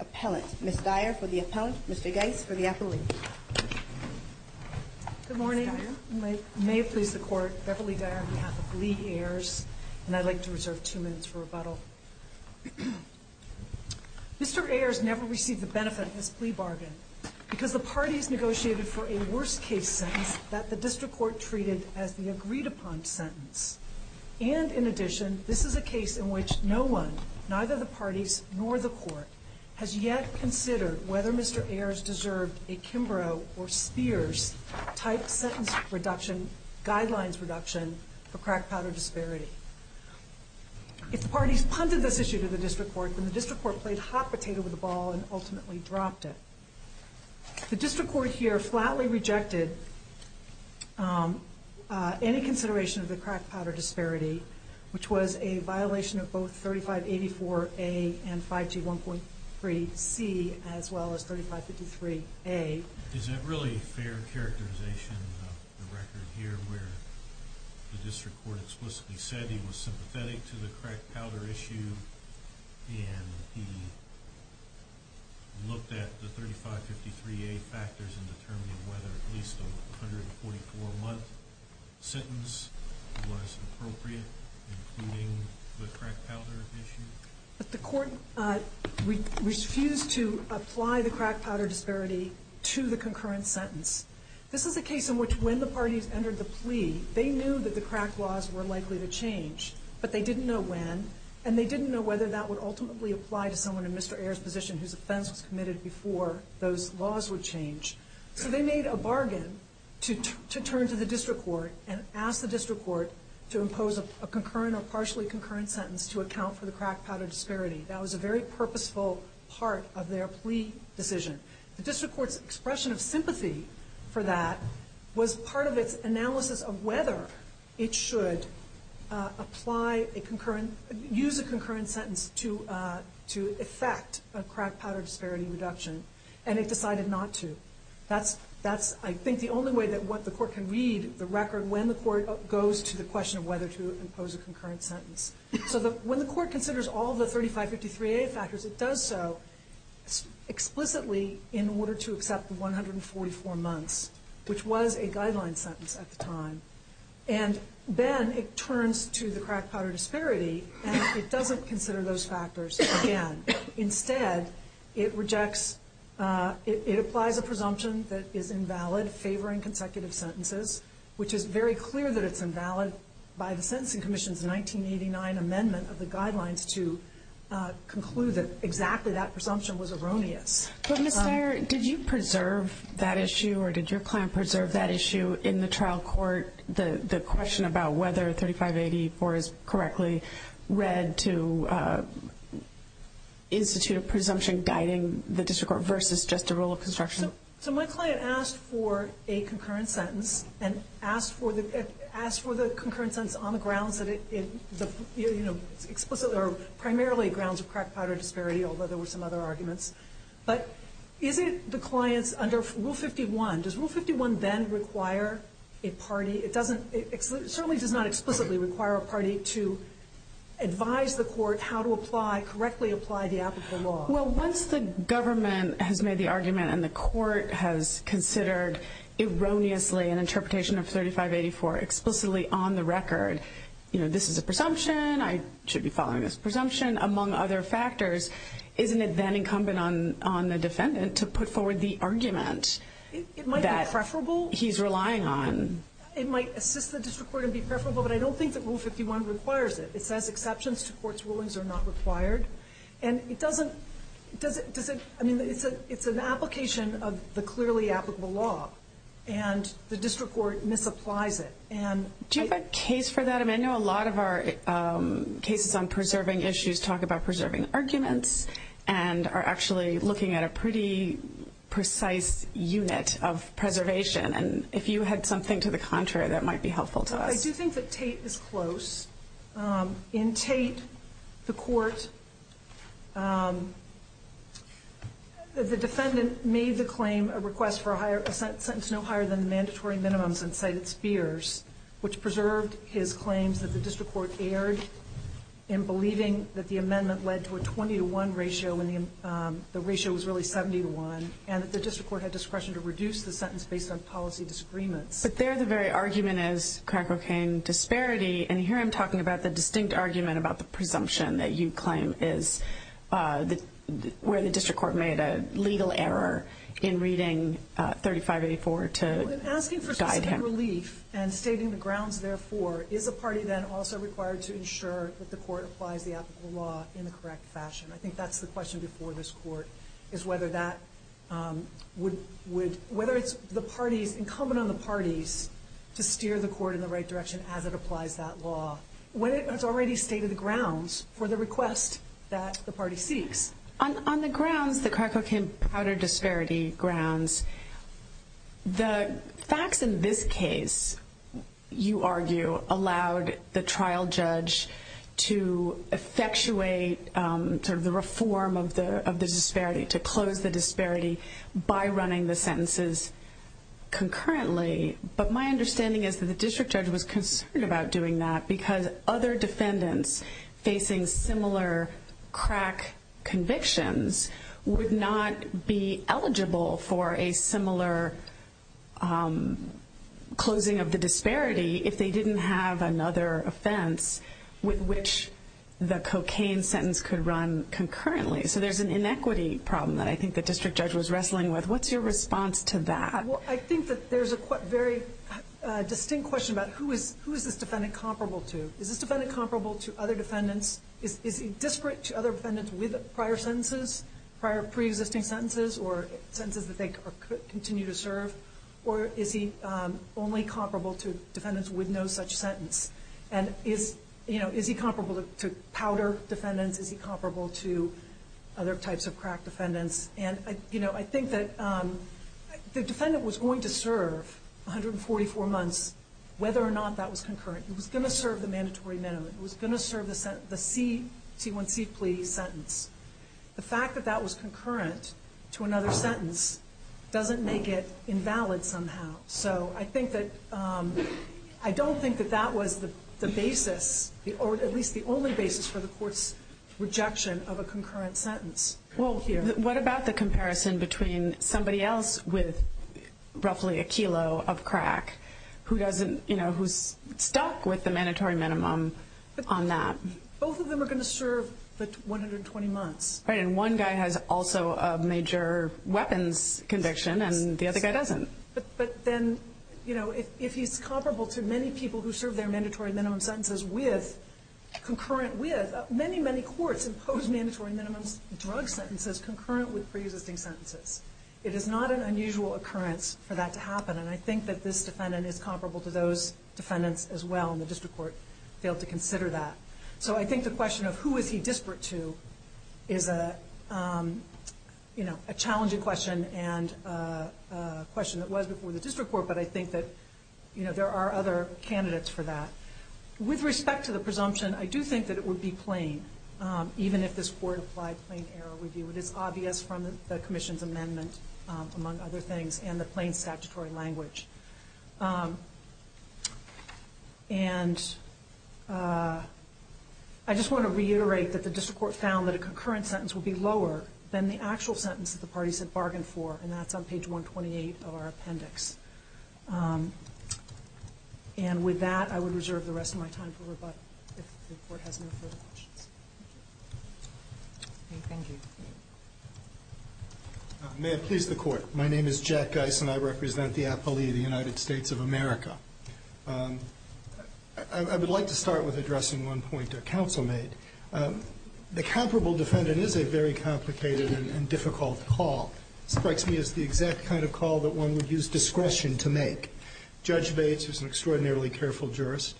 Appellant, Ms. Dyer for the Appellant, Mr. Geis for the Appellant. Good morning. May it please the Court, Beverly Dyer on behalf of Lee Ayers, and I'd like to reserve two minutes for rebuttal. Mr. Ayers never received the benefit of this plea bargain because the parties negotiated for a worst-case sentence that the District Court treated as the agreed-upon sentence. And, in addition, this is a case in which no one, neither the parties nor the Court, has yet considered whether Mr. Ayers deserved a Kimbrough or Spears-type sentence reduction, for crack powder disparity. If the parties punted this issue to the District Court, then the District Court played hot potato with the ball and ultimately dropped it. The District Court here flatly rejected any consideration of the crack powder disparity, which was a violation of both 3584A and 5G 1.3C, as well as 3553A. Is it really fair characterization of the record here where the District Court explicitly said he was sympathetic to the crack powder issue, and he looked at the 3553A factors and determined whether at least a 144-month sentence was appropriate, including the crack powder issue? But the Court refused to apply the crack powder disparity to the concurrent sentence. This is a case in which when the parties entered the plea, they knew that the crack laws were likely to change, but they didn't know when, and they didn't know whether that would ultimately apply to someone in Mr. Ayers' position whose offense was committed before those laws would change. So they made a bargain to turn to the District Court and ask the District Court to impose a concurrent or partially concurrent sentence to account for the crack powder disparity. That was a very purposeful part of their plea decision. The District Court's expression of sympathy for that was part of its analysis of whether it should use a concurrent sentence to effect a crack powder disparity reduction, and it decided not to. That's, I think, the only way that the Court can read the record when the Court goes to the question of whether to impose a concurrent sentence. So when the Court considers all the 3553A factors, it does so explicitly in order to accept the 144 months, which was a guideline sentence at the time. And then it turns to the crack powder disparity, and it doesn't consider those factors again. Instead, it rejects – it applies a presumption that is invalid favoring consecutive sentences, which is very clear that it's invalid by the Sentencing Commission's 1989 amendment of the guidelines to conclude that exactly that presumption was erroneous. But Ms. Dyer, did you preserve that issue, or did your client preserve that issue in the trial court, the question about whether 3584 is correctly read to institute a presumption guiding the District Court versus just a rule of construction? So my client asked for a concurrent sentence, and asked for the concurrent sentence on the grounds that it explicitly – although there were some other arguments. But is it the client's – under Rule 51, does Rule 51 then require a party? It doesn't – it certainly does not explicitly require a party to advise the Court how to apply – correctly apply the applicable law. Well, once the government has made the argument and the Court has considered erroneously an interpretation of 3584 explicitly on the record, you know, this is a presumption, I should be following this presumption, among other factors, isn't it then incumbent on the defendant to put forward the argument that he's relying on? It might be preferable. It might assist the District Court and be preferable, but I don't think that Rule 51 requires it. It says exceptions to court's rulings are not required. And it doesn't – I mean, it's an application of the clearly applicable law, and the District Court misapplies it. Do you have a case for that? I mean, I know a lot of our cases on preserving issues talk about preserving arguments and are actually looking at a pretty precise unit of preservation. And if you had something to the contrary, that might be helpful to us. I do think that Tate is close. In Tate, the Court – the defendant made the claim a request for a higher – a sentence no higher than the mandatory minimums and cited Spears, which preserved his claims that the District Court erred in believing that the amendment led to a 20-to-1 ratio when the ratio was really 70-to-1, and that the District Court had discretion to reduce the sentence based on policy disagreements. But there the very argument is crack cocaine disparity. And here I'm talking about the distinct argument about the presumption that you claim is where the District Court made a legal error in reading 3584 to guide him. Well, in asking for specific relief and stating the grounds, therefore, is a party then also required to ensure that the Court applies the applicable law in the correct fashion? I think that's the question before this Court, is whether that would – whether it's incumbent on the parties to steer the Court in the right direction as it applies that law when it has already stated the grounds for the request that the party seeks. On the grounds, the crack cocaine disparity grounds, the facts in this case, you argue, allowed the trial judge to effectuate sort of the reform of the disparity, to close the disparity by running the sentences concurrently. But my understanding is that the district judge was concerned about doing that because other defendants facing similar crack convictions would not be eligible for a similar closing of the disparity if they didn't have another offense with which the cocaine sentence could run concurrently. So there's an inequity problem that I think the district judge was wrestling with. What's your response to that? Well, I think that there's a very distinct question about who is this defendant comparable to? Is this defendant comparable to other defendants? Is he disparate to other defendants with prior sentences, prior pre-existing sentences, or sentences that they continue to serve? Or is he only comparable to defendants with no such sentence? And is he comparable to powder defendants? Is he comparable to other types of crack defendants? And I think that the defendant was going to serve 144 months, whether or not that was concurrent. It was going to serve the mandatory minimum. It was going to serve the C1C plea sentence. The fact that that was concurrent to another sentence doesn't make it invalid somehow. So I don't think that that was the basis, or at least the only basis, for the court's rejection of a concurrent sentence. What about the comparison between somebody else with roughly a kilo of crack who's stuck with the mandatory minimum on that? Both of them are going to serve 120 months. Right, and one guy has also a major weapons conviction, and the other guy doesn't. But then if he's comparable to many people who serve their mandatory minimum sentences with, concurrent with, many, many courts impose mandatory minimum drug sentences concurrent with pre-existing sentences. It is not an unusual occurrence for that to happen, and I think that this defendant is comparable to those defendants as well, and the district court failed to consider that. So I think the question of who is he disparate to is a challenging question and a question that was before the district court, but I think that there are other candidates for that. With respect to the presumption, I do think that it would be plain, even if this court applied plain error review. It is obvious from the commission's amendment, among other things, and the plain statutory language. And I just want to reiterate that the district court found that a concurrent sentence would be lower than the actual sentence that the parties had bargained for, and that's on page 128 of our appendix. And with that, I would reserve the rest of my time for rebuttal, if the Court has no further questions. Thank you. May it please the Court. My name is Jack Geis, and I represent the appellee of the United States of America. I would like to start with addressing one point a counsel made. The comparable defendant is a very complicated and difficult call. It strikes me as the exact kind of call that one would use discretion to make. Judge Bates, who is an extraordinarily careful jurist,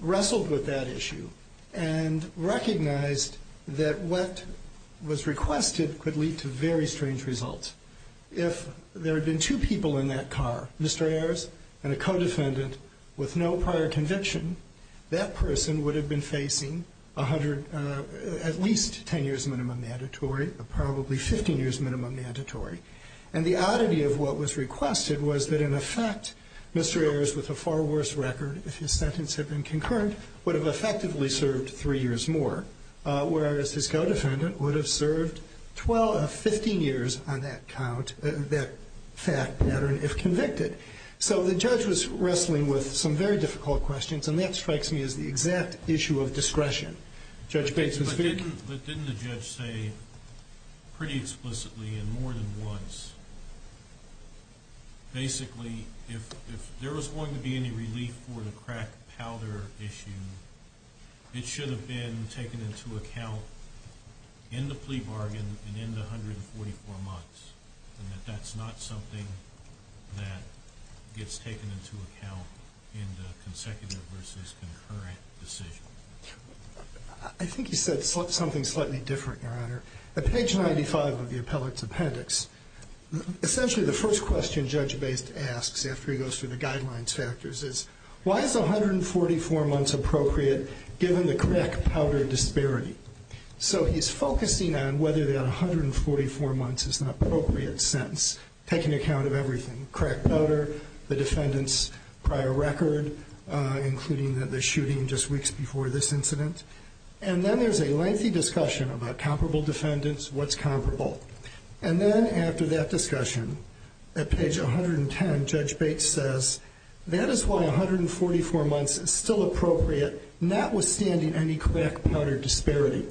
wrestled with that issue and recognized that what was requested could lead to very strange results. If there had been two people in that car, Mr. Ayers and a co-defendant, with no prior conviction, that person would have been facing at least 10 years minimum mandatory, probably 15 years minimum mandatory. And the oddity of what was requested was that, in effect, Mr. Ayers, with a far worse record if his sentence had been concurrent, would have effectively served three years more, whereas his co-defendant would have served 12 or 15 years on that count, that fact pattern, if convicted. So the judge was wrestling with some very difficult questions, and that strikes me as the exact issue of discretion. Judge Bates was speaking. But didn't the judge say pretty explicitly and more than once, basically, if there was going to be any relief for the crack powder issue, it should have been taken into account in the plea bargain and in the 144 months, and that that's not something that gets taken into account in the consecutive versus concurrent decision? I think he said something slightly different, Your Honor. At page 95 of the appellate's appendix, essentially the first question Judge Bates asks after he goes through the guidelines factors is, why is 144 months appropriate given the crack powder disparity? So he's focusing on whether that 144 months is an appropriate sentence, taking account of everything, crack powder, the defendant's prior record, including the shooting just weeks before this incident. And then there's a lengthy discussion about comparable defendants, what's comparable. And then after that discussion, at page 110, Judge Bates says, that is why 144 months is still appropriate, notwithstanding any crack powder disparity.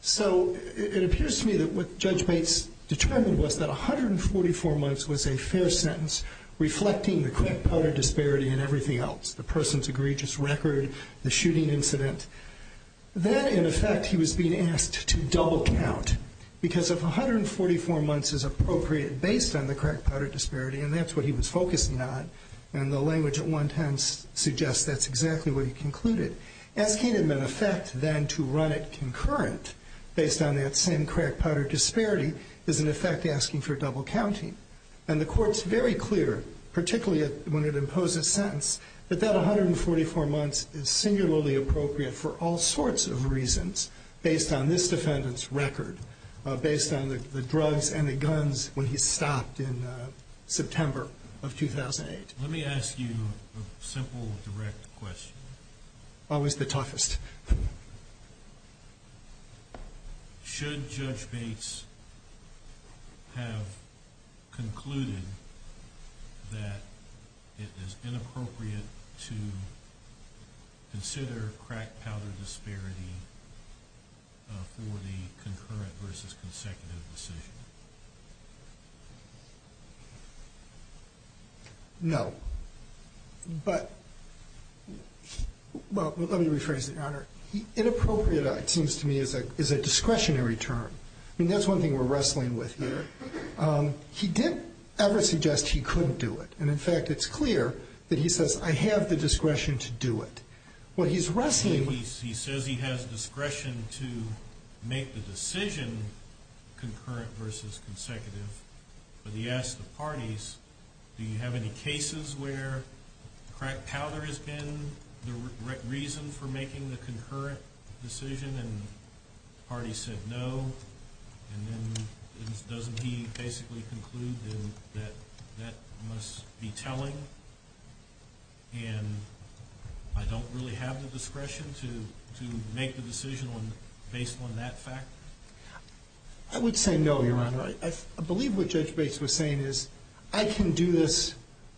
So it appears to me that what Judge Bates determined was that 144 months was a fair sentence, reflecting the crack powder disparity and everything else, the person's egregious record, the shooting incident. That, in effect, he was being asked to double count, because if 144 months is appropriate based on the crack powder disparity, and that's what he was focusing on, and the language at 110 suggests that's exactly what he concluded. Asking him, in effect, then to run it concurrent based on that same crack powder disparity is, in effect, asking for double counting. And the Court's very clear, particularly when it imposes sentence, that that 144 months is singularly appropriate for all sorts of reasons, based on this defendant's record, based on the drugs and the guns when he stopped in September of 2008. Let me ask you a simple, direct question. Always the toughest. Should Judge Bates have concluded that it is inappropriate to consider crack powder disparity for the concurrent versus consecutive decision? No. But, well, let me rephrase that, Your Honor. Inappropriate, it seems to me, is a discretionary term. I mean, that's one thing we're wrestling with here. He didn't ever suggest he couldn't do it. And, in fact, it's clear that he says, I have the discretion to do it. He says he has discretion to make the decision concurrent versus consecutive. But he asked the parties, do you have any cases where crack powder has been the reason for making the concurrent decision? And the parties said no. And then doesn't he basically conclude then that that must be telling? And I don't really have the discretion to make the decision based on that fact? I would say no, Your Honor. I believe what Judge Bates was saying is, I can do this,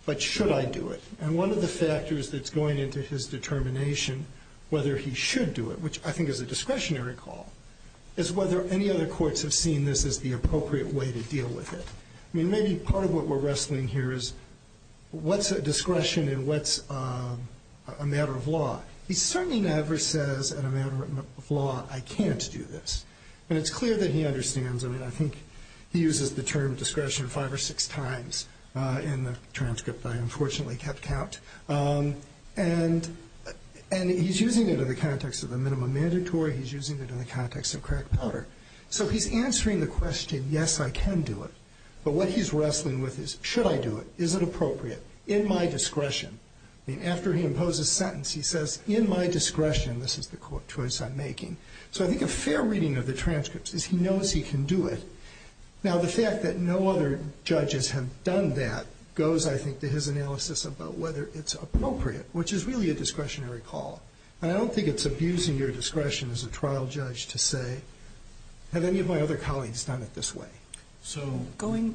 but should I do it? And one of the factors that's going into his determination whether he should do it, which I think is a discretionary call, is whether any other courts have seen this as the appropriate way to deal with it. I mean, maybe part of what we're wrestling here is, what's a discretion and what's a matter of law? He certainly never says in a matter of law, I can't do this. And it's clear that he understands. I mean, I think he uses the term discretion five or six times in the transcript I unfortunately kept out. And he's using it in the context of the minimum mandatory. He's using it in the context of crack powder. So he's answering the question, yes, I can do it. But what he's wrestling with is, should I do it? Is it appropriate? In my discretion? I mean, after he imposes sentence, he says, in my discretion, this is the choice I'm making. So I think a fair reading of the transcripts is he knows he can do it. Now, the fact that no other judges have done that goes, I think, to his analysis about whether it's appropriate, which is really a discretionary call. And I don't think it's abusing your discretion as a trial judge to say, have any of my other colleagues done it this way? So go ahead.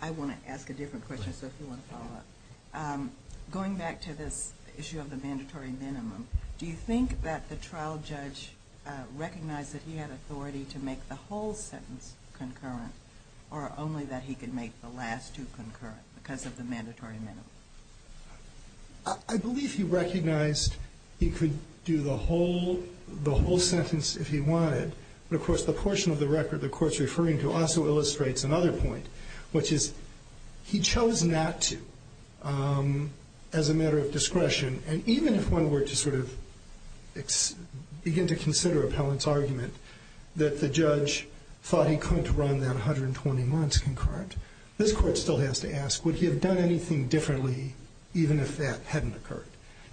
I want to ask a different question, so if you want to follow up. Going back to this issue of the mandatory minimum, do you think that the trial judge recognized that he had authority to make the whole sentence concurrent or only that he could make the last two concurrent because of the mandatory minimum? I believe he recognized he could do the whole sentence if he wanted. But, of course, the portion of the record the Court's referring to also illustrates another point, which is he chose not to as a matter of discretion. And even if one were to sort of begin to consider appellant's argument that the judge thought he couldn't run that 120 months concurrent, this Court still has to ask, would he have done anything differently even if that hadn't occurred?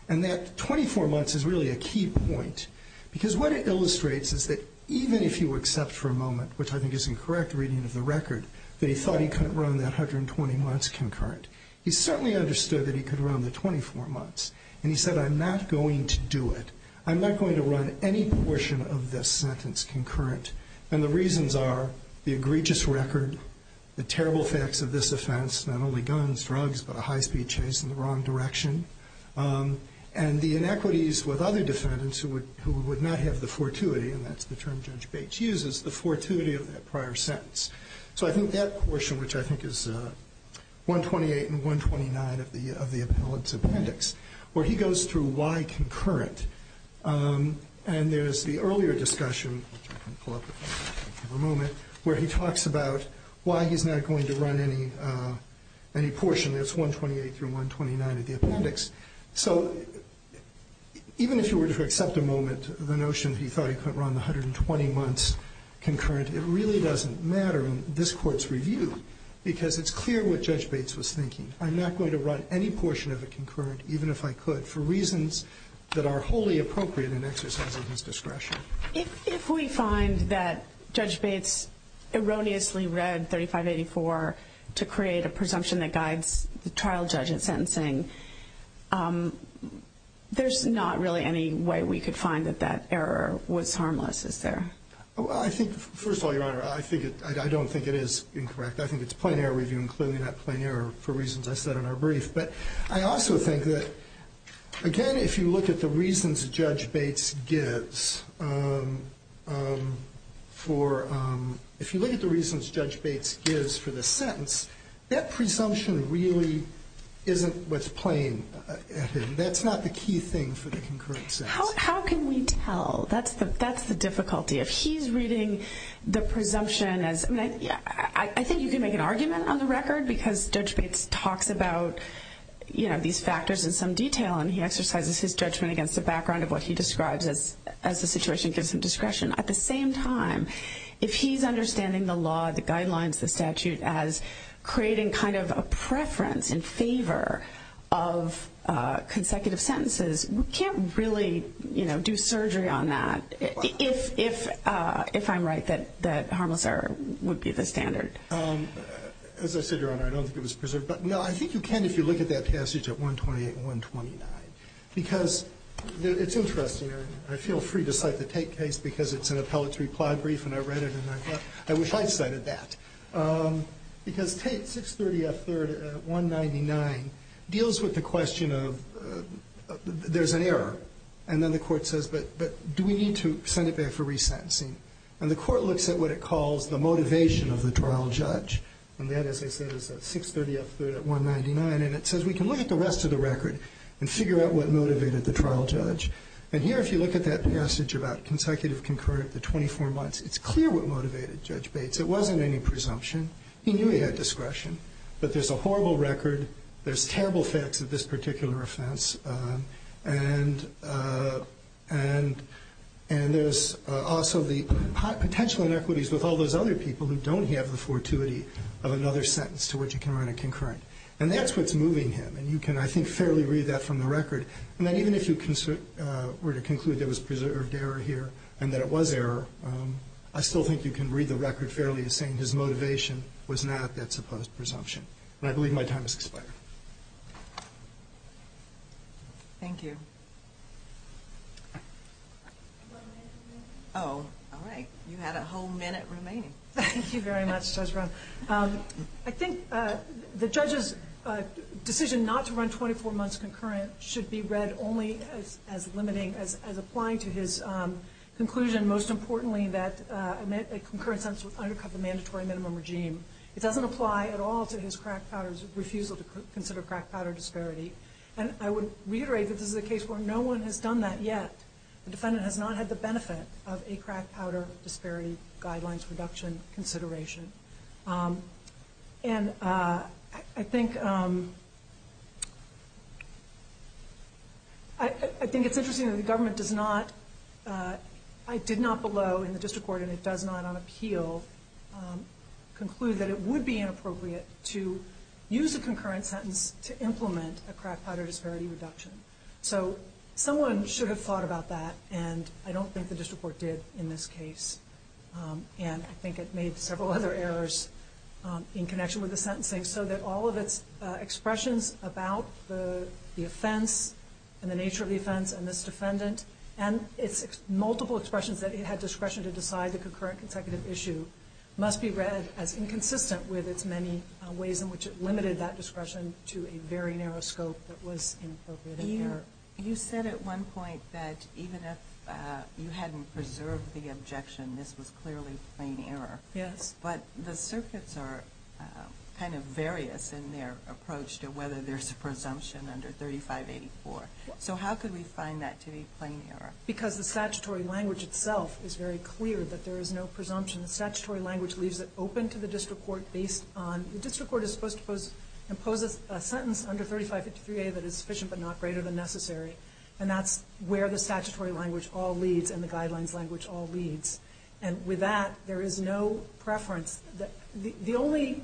And that 24 months is really a key point because what it illustrates is that even if you accept for a moment, which I think is incorrect reading of the record, that he thought he couldn't run that 120 months concurrent, he certainly understood that he could run the 24 months. And he said, I'm not going to do it. I'm not going to run any portion of this sentence concurrent. And the reasons are the egregious record, the terrible facts of this offense, not only guns, drugs, but a high-speed chase in the wrong direction, and the inequities with other defendants who would not have the fortuity, and that's the term Judge Bates uses, the fortuity of that prior sentence. So I think that portion, which I think is 128 and 129 of the appellant's appendix, where he goes through why concurrent. And there's the earlier discussion, which I can pull up in a moment, where he talks about why he's not going to run any portion. That's 128 through 129 of the appendix. So even if you were to accept for a moment the notion that he thought he couldn't run the 120 months concurrent, it really doesn't matter in this Court's review because it's clear what Judge Bates was thinking. I'm not going to run any portion of it concurrent, even if I could, but for reasons that are wholly appropriate in exercising his discretion. If we find that Judge Bates erroneously read 3584 to create a presumption that guides the trial judge in sentencing, there's not really any way we could find that that error was harmless, is there? Well, I think, first of all, Your Honor, I don't think it is incorrect. I think it's plain error review, including that plain error, for reasons I said in our brief. But I also think that, again, if you look at the reasons Judge Bates gives for the sentence, that presumption really isn't what's plain. That's not the key thing for the concurrent sentence. How can we tell? That's the difficulty. If he's reading the presumption as – I think you can make an argument on the record because Judge Bates talks about these factors in some detail and he exercises his judgment against the background of what he describes as the situation gives him discretion. At the same time, if he's understanding the law, the guidelines, the statute, as creating kind of a preference in favor of consecutive sentences, we can't really do surgery on that if I'm right that harmless error would be the standard. As I said, Your Honor, I don't think it was preserved. But, no, I think you can if you look at that passage at 128 and 129. Because it's interesting. I feel free to cite the Tate case because it's an appellatory plied brief and I read it and I thought, I wish I'd cited that. Because Tate, 630 F. 3rd, 199, deals with the question of there's an error. And then the Court says, but do we need to send it back for resentencing? And the Court looks at what it calls the motivation of the trial judge. And that, as I said, is 630 F. 3rd at 199. And it says we can look at the rest of the record and figure out what motivated the trial judge. And here, if you look at that passage about consecutive concurrent, the 24 months, it's clear what motivated Judge Bates. It wasn't any presumption. He knew he had discretion. But there's a horrible record. There's terrible facts of this particular offense. And there's also the potential inequities with all those other people who don't have the fortuity of another sentence to which you can run a concurrent. And that's what's moving him. And you can, I think, fairly read that from the record. And then even if you were to conclude there was preserved error here and that it was error, I still think you can read the record fairly as saying his motivation was not that supposed presumption. And I believe my time has expired. Thank you. Oh, all right. You had a whole minute remaining. Thank you very much, Judge Brown. I think the judge's decision not to run 24 months concurrent should be read only as limiting, as applying to his conclusion, most importantly, that a concurrent sentence would undercut the mandatory minimum regime. It doesn't apply at all to his crack powder's refusal to consider crack powder disparity. And I would reiterate that this is a case where no one has done that yet. The defendant has not had the benefit of a crack powder disparity guidelines reduction consideration. And I think it's interesting that the government does not, I did not below in the district court, and it does not on appeal, conclude that it would be inappropriate to use a concurrent sentence to implement a crack powder disparity reduction. So someone should have thought about that. And I don't think the district court did in this case. And I think it made several other errors in connection with the sentencing so that all of its expressions about the offense and the nature of the offense and this defendant and its multiple expressions that it had discretion to decide the concurrent consecutive issue must be read as inconsistent with its many ways in which it limited that discretion to a very narrow scope that was inappropriate. You said at one point that even if you hadn't preserved the objection, this was clearly plain error. Yes. But the circuits are kind of various in their approach to whether there's a presumption under 3584. So how could we find that to be plain error? Because the statutory language itself is very clear that there is no presumption. The statutory language leaves it open to the district court based on, the district court is supposed to impose a sentence under 3553A that is sufficient but not greater than necessary. And that's where the statutory language all leads and the guidelines language all leads. And with that, there is no preference. The only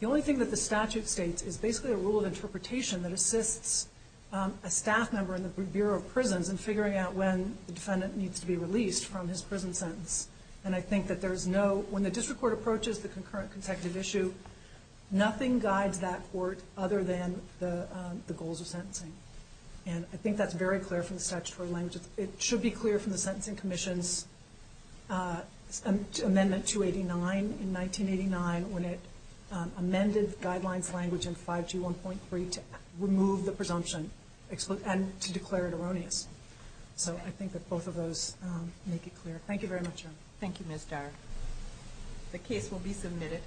thing that the statute states is basically a rule of interpretation that assists a staff member in the Bureau of Prisons in figuring out when the defendant needs to be released from his prison sentence. And I think that there is no, when the district court approaches the concurrent consecutive issue, nothing guides that court other than the goals of sentencing. And I think that's very clear from the statutory language. It should be clear from the Sentencing Commission's amendment 289 in 1989 when it amended the guidelines language in 521.3 to remove the presumption and to declare it erroneous. So I think that both of those make it clear. Thank you very much. Thank you, Ms. Darr. The case will be submitted.